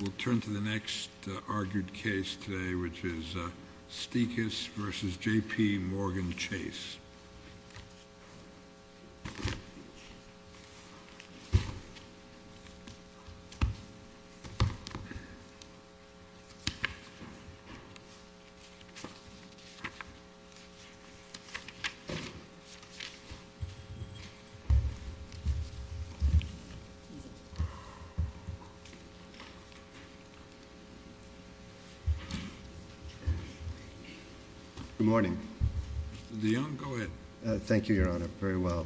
We'll turn to the next argued case today, which is Stikas v. J.P. Morgan Chase. Good morning. Mr. DeYoung, go ahead. Thank you, Your Honor, very well.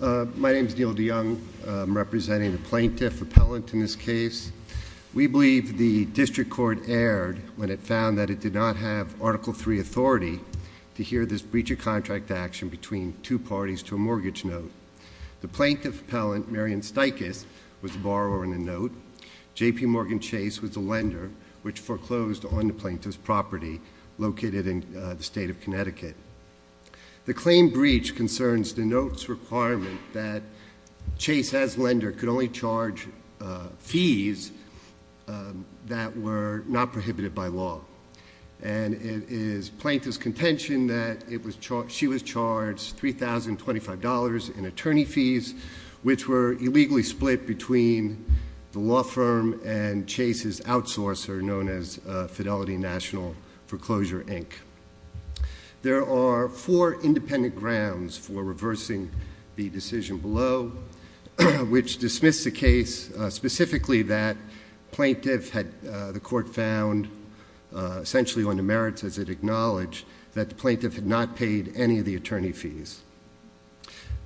My name is Neil DeYoung. I'm representing the plaintiff appellant in this case. We believe the district court erred when it found that it did not have Article III authority to hear this breach of contract action between two parties to a mortgage note. The plaintiff appellant, Marion Stikas, was the borrower in the note. J.P. Morgan Chase was the lender, which foreclosed on the plaintiff's property located in the state of Connecticut. The claim breach concerns the note's requirement that Chase, as lender, could only charge fees that were not prohibited by law. And it is plaintiff's contention that she was charged $3,025 in attorney fees, which were illegally split between the law firm and Chase's outsourcer known as Fidelity National Foreclosure, Inc. There are four independent grounds for reversing the decision below, which dismiss the case specifically that the court found essentially on the merits as it acknowledged that the plaintiff had not paid any of the attorney fees.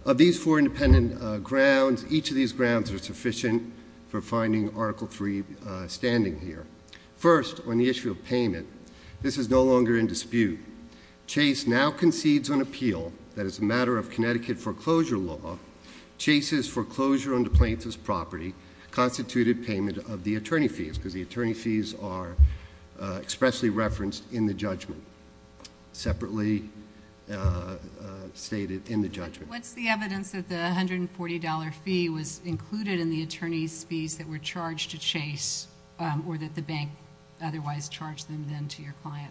Of these four independent grounds, each of these grounds are sufficient for finding Article III standing here. First, on the issue of payment, this is no longer in dispute. Chase now concedes on appeal that as a matter of Connecticut foreclosure law, Chase's foreclosure on the plaintiff's property constituted payment of the attorney fees, because the attorney fees are expressly referenced in the judgment, separately stated in the judgment. What's the evidence that the $140 fee was included in the attorney's fees that were charged to Chase, or that the bank otherwise charged them then to your client?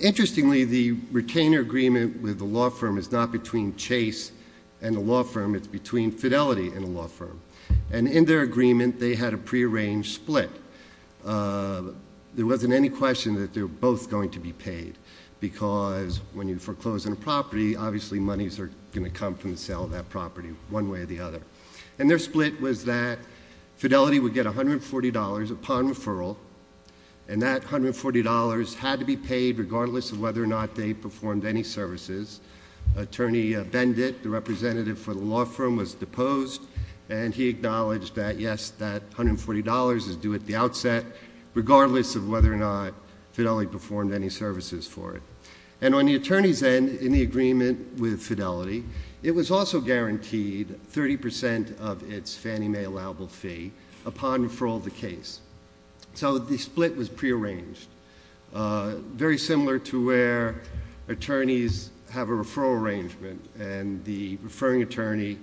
Interestingly, the retainer agreement with the law firm is not between Chase and the law firm. It's between Fidelity and the law firm. And in their agreement, they had a prearranged split. There wasn't any question that they were both going to be paid, because when you foreclose on a property, obviously monies are going to come from the sale of that property one way or the other. And their split was that Fidelity would get $140 upon referral, and that $140 had to be paid regardless of whether or not they performed any services. Attorney Bendit, the representative for the law firm, was deposed, and he acknowledged that, yes, that $140 is due at the outset, regardless of whether or not Fidelity performed any services for it. And on the attorney's end, in the agreement with Fidelity, it was also guaranteed 30% of its Fannie Mae allowable fee upon referral of the case. So the split was prearranged. Very similar to where attorneys have a referral arrangement, and the referring attorney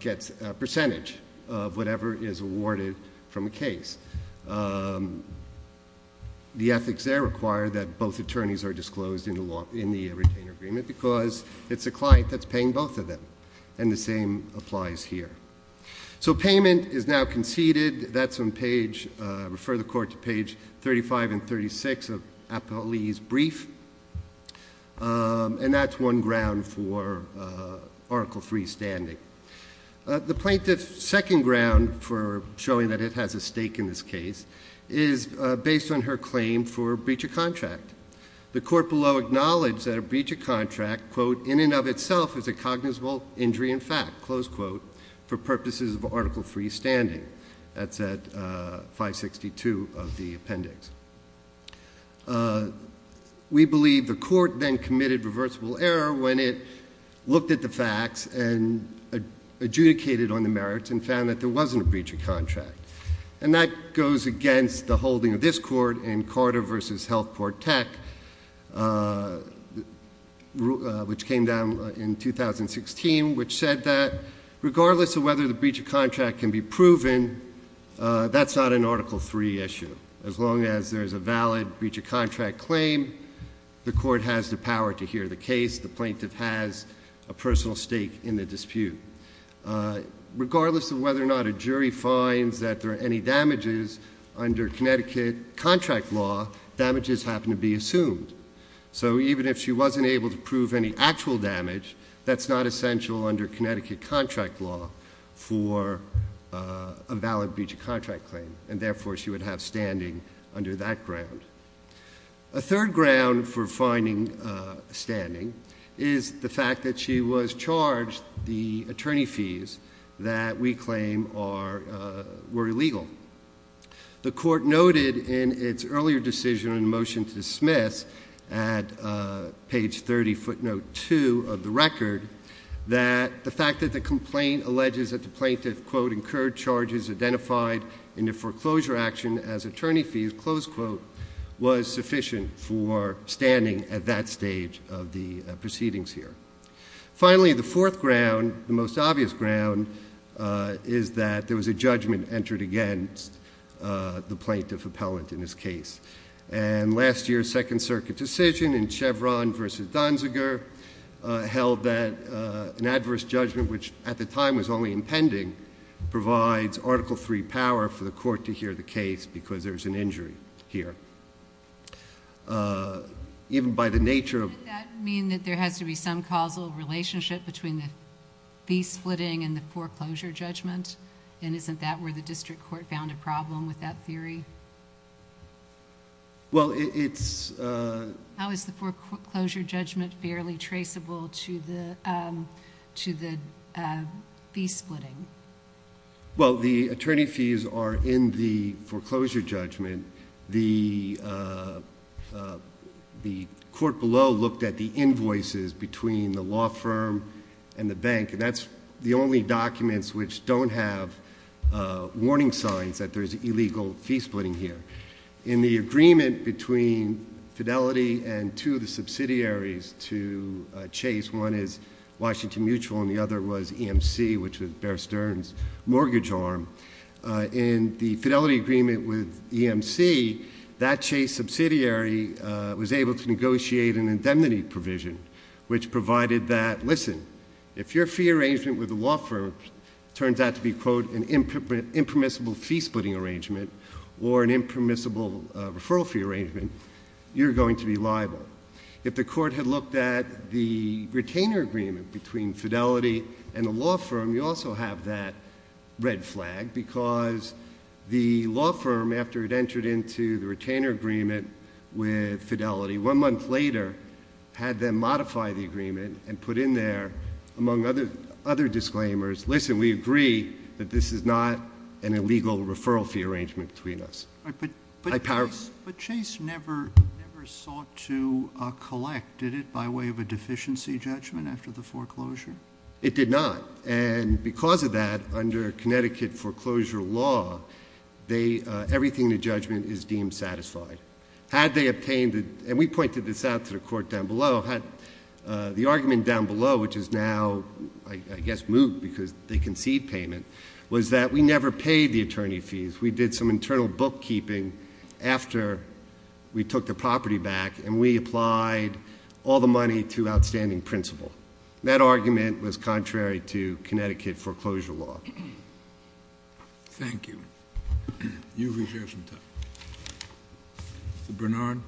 gets a percentage of whatever is awarded from a case. The ethics there require that both attorneys are disclosed in the retainer agreement because it's a client that's paying both of them, and the same applies here. So payment is now conceded. That's on page, refer the court to page 35 and 36 of Appellee's brief, and that's one ground for Article III standing. The plaintiff's second ground for showing that it has a stake in this case is based on her claim for breach of contract. The court below acknowledged that a breach of contract, quote, in and of itself is a cognizable injury in fact, close quote, for purposes of Article III standing. That's at 562 of the appendix. We believe the court then committed reversible error when it looked at the facts and adjudicated on the merits and found that there wasn't a breach of contract. And that goes against the holding of this court in Carter v. Healthcourt Tech, which came down in 2016, which said that regardless of whether the breach of contract can be proven, that's not an Article III issue. As long as there's a valid breach of contract claim, the court has the power to hear the case. The plaintiff has a personal stake in the dispute. Regardless of whether or not a jury finds that there are any damages under Connecticut contract law, damages happen to be assumed. So even if she wasn't able to prove any actual damage, that's not essential under Connecticut contract law for a valid breach of contract claim. And therefore, she would have standing under that ground. A third ground for finding standing is the fact that she was charged the attorney fees that we claim were illegal. The court noted in its earlier decision and motion to dismiss at page 30, footnote 2 of the record, that the fact that the complaint alleges that the plaintiff, quote, incurred charges identified in the foreclosure action as attorney fees, close quote, was sufficient for standing at that stage of the proceedings here. Finally, the fourth ground, the most obvious ground, is that there was a judgment entered against the plaintiff appellant in this case. And last year's Second Circuit decision in Chevron versus Donziger held that an adverse judgment, which at the time was only impending, provides Article III power for the court to hear the case because there's an injury here. Even by the nature of... Does that mean that there has to be some causal relationship between the fee splitting and the foreclosure judgment? And isn't that where the district court found a problem with that theory? Well, it's... How is the foreclosure judgment fairly traceable to the fee splitting? Well, the attorney fees are in the foreclosure judgment. The court below looked at the invoices between the law firm and the bank, and that's the only documents which don't have warning signs that there's illegal fee splitting here. In the agreement between Fidelity and two of the subsidiaries to Chase, one is Washington Mutual and the other was EMC, which was Bear Stearns' mortgage arm. In the Fidelity agreement with EMC, that Chase subsidiary was able to negotiate an indemnity provision, which provided that, listen, if your fee arrangement with a law firm turns out to be, quote, an impermissible fee splitting arrangement or an impermissible referral fee arrangement, you're going to be liable. If the court had looked at the retainer agreement between Fidelity and the law firm, you also have that red flag because the law firm, after it entered into the retainer agreement with Fidelity, one month later had them modify the agreement and put in there, among other disclaimers, listen, we agree that this is not an illegal referral fee arrangement between us. But Chase never sought to collect, did it, by way of a deficiency judgment after the foreclosure? It did not. And because of that, under Connecticut foreclosure law, everything in the judgment is deemed satisfied. Had they obtained, and we pointed this out to the court down below, the argument down below, which is now, I guess, moot because they concede payment, was that we never paid the attorney fees. We did some internal bookkeeping after we took the property back, and we applied all the money to outstanding principal. That argument was contrary to Connecticut foreclosure law. Thank you. You've reserved some time. Mr. Bernard?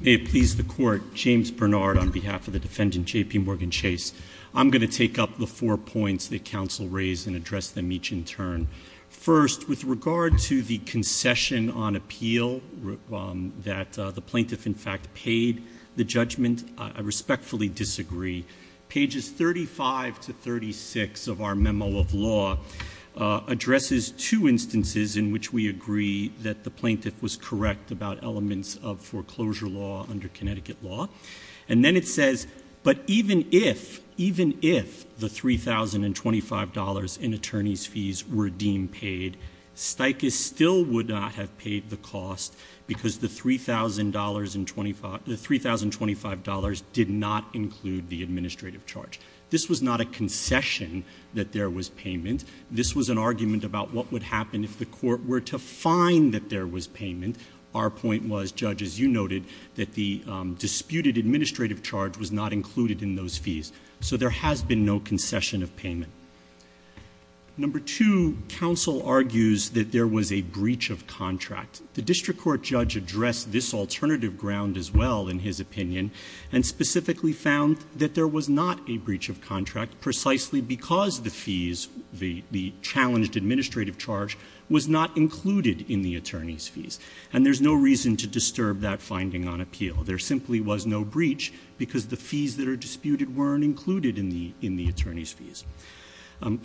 May it please the court, James Bernard on behalf of the defendant J.P. Morgan Chase. I'm going to take up the four points that counsel raised and address them each in turn. First, with regard to the concession on appeal that the plaintiff, in fact, paid the judgment, I respectfully disagree. Pages 35 to 36 of our memo of law addresses two instances in which we agree that the plaintiff was correct about elements of foreclosure law under Connecticut law. And then it says, but even if, even if the $3,025 in attorney's fees were deemed paid, Sticus still would not have paid the cost because the $3,025 did not include the administrative charge. This was not a concession that there was payment. This was an argument about what would happen if the court were to find that there was payment. Our point was, Judge, as you noted, that the disputed administrative charge was not included in those fees. So there has been no concession of payment. Number two, counsel argues that there was a breach of contract. The district court judge addressed this alternative ground as well, in his opinion, and specifically found that there was not a breach of contract precisely because the fees, the challenged administrative charge, was not included in the attorney's fees. And there's no reason to disturb that finding on appeal. There simply was no breach because the fees that are disputed weren't included in the attorney's fees.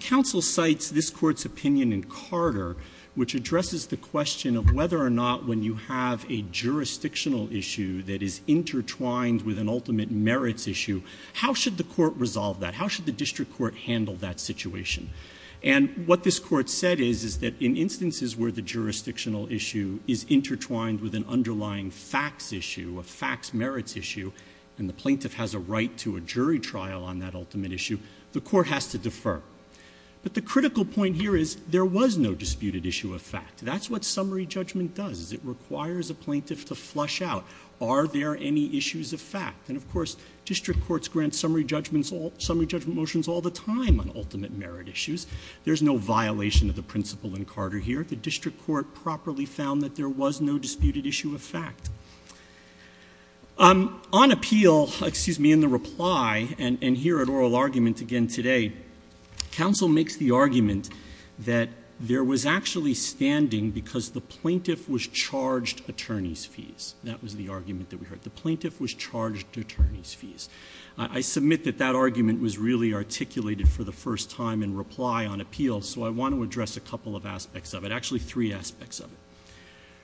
Counsel cites this Court's opinion in Carter, which addresses the question of whether or not when you have a jurisdictional issue that is intertwined with an ultimate merits issue, how should the court resolve that? How should the district court handle that situation? And what this Court said is, is that in instances where the jurisdictional issue is intertwined with an underlying facts issue, a facts merits issue, and the plaintiff has a right to a jury trial on that ultimate issue, the court has to defer. But the critical point here is there was no disputed issue of fact. That's what summary judgment does, is it requires a plaintiff to flush out, are there any issues of fact? And, of course, district courts grant summary judgment motions all the time on ultimate merit issues. There's no violation of the principle in Carter here. The district court properly found that there was no disputed issue of fact. On appeal, excuse me, in the reply, and here at oral argument again today, counsel makes the argument that there was actually standing because the plaintiff was charged attorney's fees. That was the argument that we heard. The plaintiff was charged attorney's fees. I submit that that argument was really articulated for the first time in reply on appeal, so I want to address a couple of aspects of it, actually three aspects of it.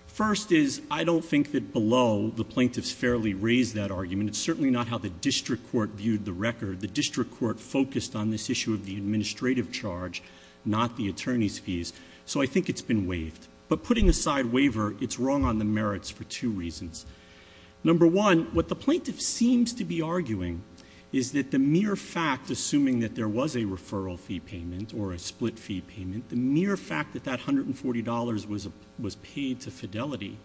First is I don't think that below the plaintiff's fairly raised that argument. It's certainly not how the district court viewed the record. The district court focused on this issue of the administrative charge, not the attorney's fees, so I think it's been waived. But putting aside waiver, it's wrong on the merits for two reasons. Number one, what the plaintiff seems to be arguing is that the mere fact, assuming that there was a referral fee payment or a split fee payment, the mere fact that that $140 was paid to Fidelity,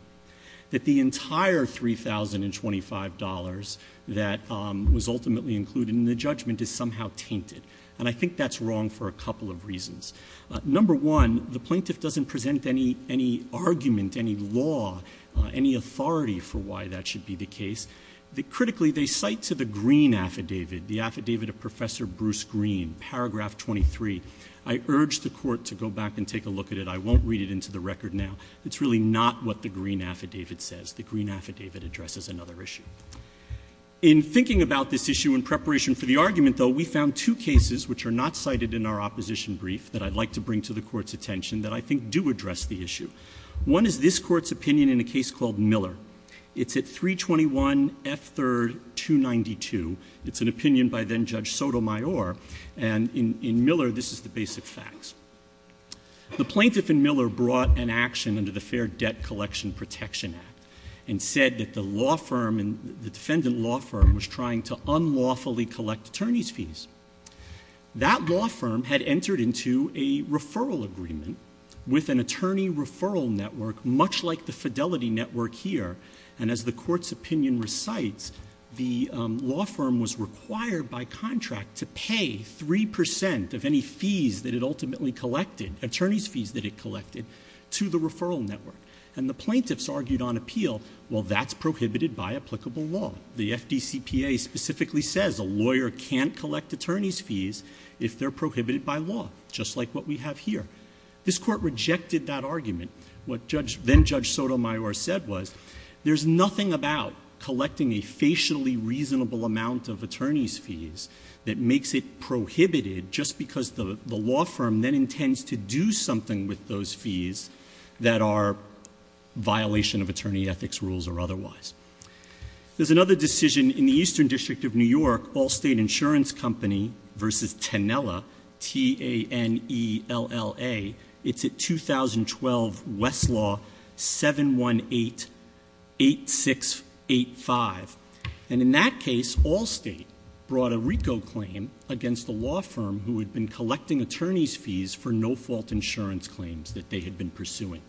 that the entire $3,025 that was ultimately included in the judgment is somehow tainted. And I think that's wrong for a couple of reasons. Number one, the plaintiff doesn't present any argument, any law, any authority for why that should be the case. Critically, they cite to the green affidavit, the affidavit of Professor Bruce Green, paragraph 23. I urge the court to go back and take a look at it. I won't read it into the record now. It's really not what the green affidavit says. The green affidavit addresses another issue. In thinking about this issue in preparation for the argument, though, we found two cases which are not cited in our opposition brief that I'd like to bring to the court's attention that I think do address the issue. One is this court's opinion in a case called Miller. It's at 321 F3rd 292. It's an opinion by then Judge Sotomayor. And in Miller, this is the basic facts. The plaintiff in Miller brought an action under the Fair Debt Collection Protection Act and said that the law firm and the defendant law firm was trying to unlawfully collect attorney's fees. That law firm had entered into a referral agreement with an attorney referral network much like the Fidelity Network here. And as the court's opinion recites, the law firm was required by contract to pay 3% of any fees that it ultimately collected, attorney's fees that it collected, to the referral network. And the plaintiffs argued on appeal, well, that's prohibited by applicable law. The FDCPA specifically says a lawyer can't collect attorney's fees if they're prohibited by law, just like what we have here. This court rejected that argument. What then Judge Sotomayor said was there's nothing about collecting a facially reasonable amount of attorney's fees that makes it prohibited just because the law firm then intends to do something with those fees that are violation of attorney ethics rules or otherwise. There's another decision in the Eastern District of New York, Allstate Insurance Company v. Tenella, T-A-N-E-L-L-A. It's at 2012 Westlaw 718-8685. And in that case, Allstate brought a RICO claim against the law firm who had been collecting attorney's fees for no-fault insurance claims that they had been pursuing.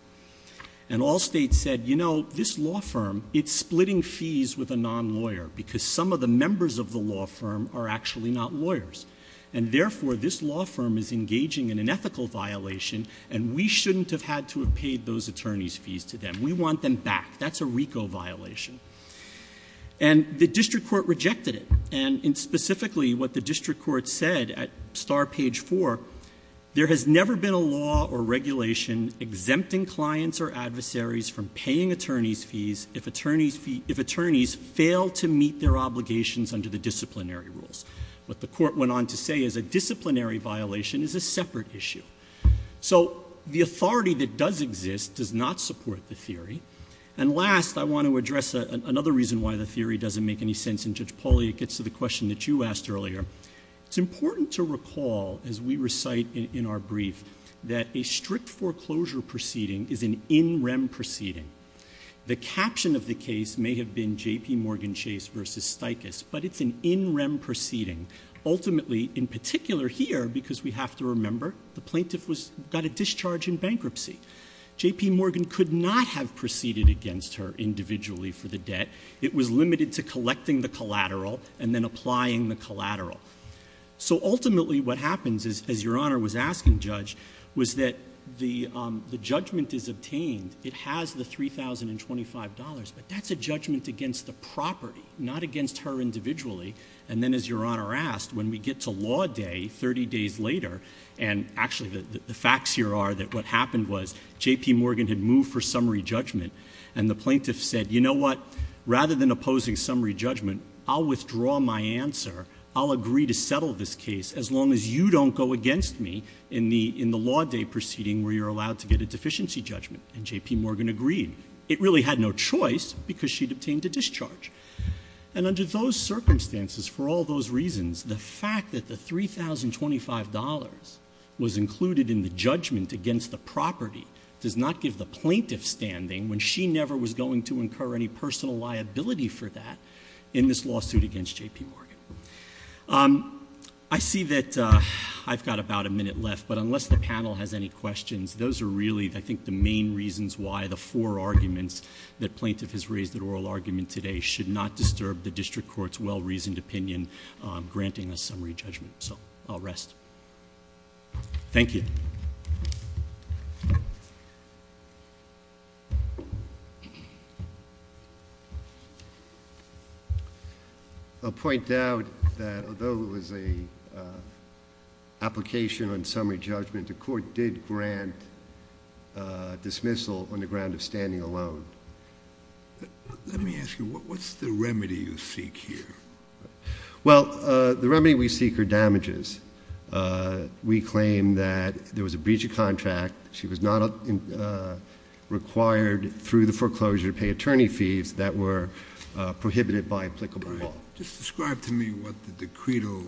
And Allstate said, you know, this law firm, it's splitting fees with a non-lawyer because some of the members of the law firm are actually not lawyers. And therefore, this law firm is engaging in an ethical violation and we shouldn't have had to have paid those attorney's fees to them. We want them back. That's a RICO violation. And the district court rejected it. And specifically what the district court said at star page 4, there has never been a law or regulation exempting clients or adversaries from paying attorney's fees if attorneys fail to meet their obligations under the disciplinary rules. What the court went on to say is a disciplinary violation is a separate issue. So the authority that does exist does not support the theory. And last, I want to address another reason why the theory doesn't make any sense. And Judge Pauly, it gets to the question that you asked earlier. It's important to recall, as we recite in our brief, that a strict foreclosure proceeding is an in rem proceeding. The caption of the case may have been JPMorgan Chase v. Stiches, but it's an in rem proceeding. Ultimately, in particular here, because we have to remember, the plaintiff got a discharge in bankruptcy. JPMorgan could not have proceeded against her individually for the debt. It was limited to collecting the collateral and then applying the collateral. So ultimately what happens is, as Your Honor was asking, Judge, was that the judgment is obtained. It has the $3,025, but that's a judgment against the property, not against her individually. And then as Your Honor asked, when we get to law day, 30 days later, and actually the facts here are that what happened was JPMorgan had moved for summary judgment. And the plaintiff said, you know what? Rather than opposing summary judgment, I'll withdraw my answer. I'll agree to settle this case as long as you don't go against me in the law day proceeding where you're allowed to get a deficiency judgment. And JPMorgan agreed. It really had no choice because she'd obtained a discharge. And under those circumstances, for all those reasons, the fact that the $3,025 was included in the judgment against the property does not give the plaintiff standing when she never was going to incur any personal liability for that in this lawsuit against JPMorgan. I see that I've got about a minute left, but unless the panel has any questions, those are really, I think, the main reasons why the four arguments that plaintiff has raised in oral argument today should not disturb the district court's well-reasoned opinion granting a summary judgment. So I'll rest. Thank you. I'll point out that although it was an application on summary judgment, the court did grant dismissal on the ground of standing alone. Let me ask you, what's the remedy you seek here? Well, the remedy we seek are damages. We claim that there was a breach of contract. She was not required through the foreclosure to pay attorney fees that were prohibited by applicable law. Just describe to me what the decreto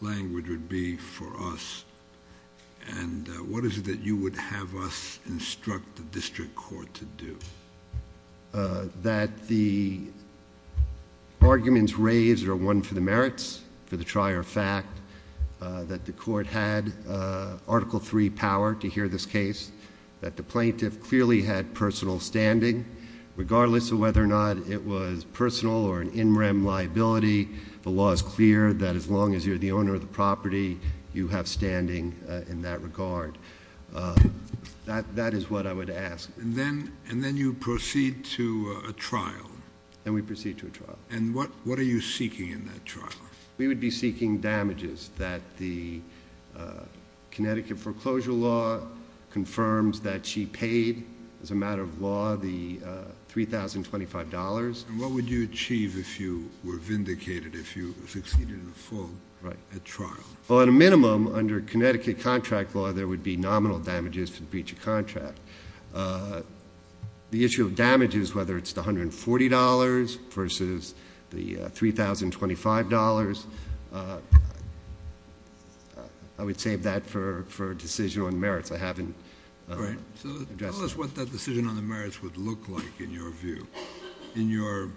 language would be for us, and what is it that you would have us instruct the district court to do? That the arguments raised are one for the merits, for the trier fact, that the court had Article III power to hear this case, that the plaintiff clearly had personal standing, regardless of whether or not it was personal or an in rem liability. The law is clear that as long as you're the owner of the property, you have standing in that regard. That is what I would ask. And then you proceed to a trial. And we proceed to a trial. And what are you seeking in that trial? We would be seeking damages that the Connecticut foreclosure law confirms that she paid, as a matter of law, the $3,025. And what would you achieve if you were vindicated, if you succeeded in full at trial? Well, at a minimum, under Connecticut contract law, there would be nominal damages to breach a contract. The issue of damages, whether it's the $140 versus the $3,025, I would save that for a decision on merits. I haven't addressed it. All right. So tell us what that decision on the merits would look like in your view, in your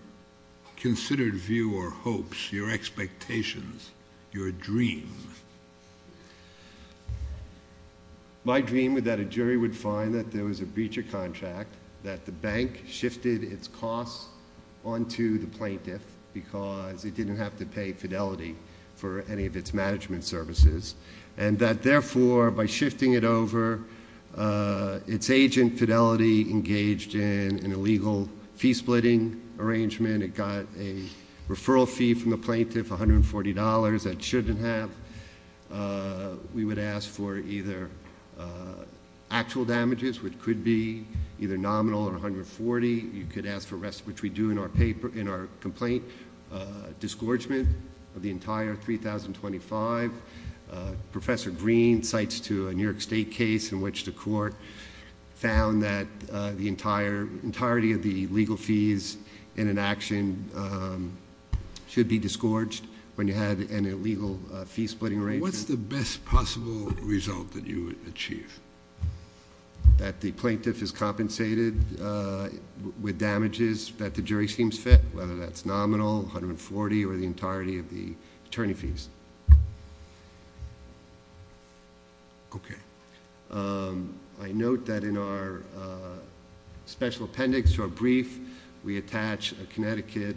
considered view or hopes, your expectations, your dream. My dream is that a jury would find that there was a breach of contract, that the bank shifted its costs onto the plaintiff because it didn't have to pay fidelity for any of its management services. And that, therefore, by shifting it over, its agent, Fidelity, engaged in an illegal fee-splitting arrangement. It got a referral fee from the plaintiff, $140, that it shouldn't have. We would ask for either actual damages, which could be either nominal or $140. You could ask for rest, which we do in our complaint, disgorgement of the entire $3,025. Professor Green cites to a New York State case in which the court found that the entirety of the legal fees in an action should be disgorged when you have an illegal fee-splitting arrangement. What's the best possible result that you would achieve? That the plaintiff is compensated with damages that the jury seems fit, whether that's nominal, $140, or the entirety of the attorney fees. Okay. I note that in our special appendix to our brief, we attach a Connecticut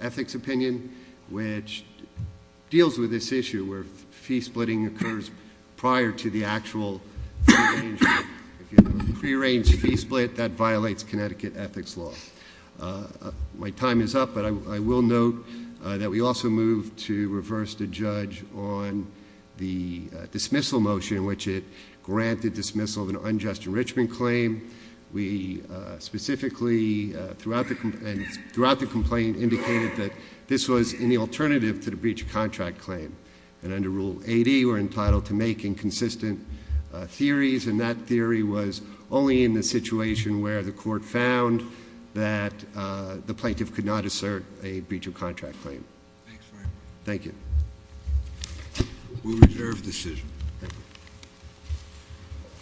ethics opinion, which deals with this issue where fee-splitting occurs prior to the actual free-range fee-split that violates Connecticut ethics law. My time is up, but I will note that we also moved to reverse the judge on the dismissal motion, which it granted dismissal of an unjust enrichment claim. We specifically, throughout the complaint, indicated that this was an alternative to the breach of contract claim. And under Rule 80, we're entitled to make inconsistent theories. And that theory was only in the situation where the court found that the plaintiff could not assert a breach of contract claim. Thanks very much. Thank you. We reserve the decision. Thank you.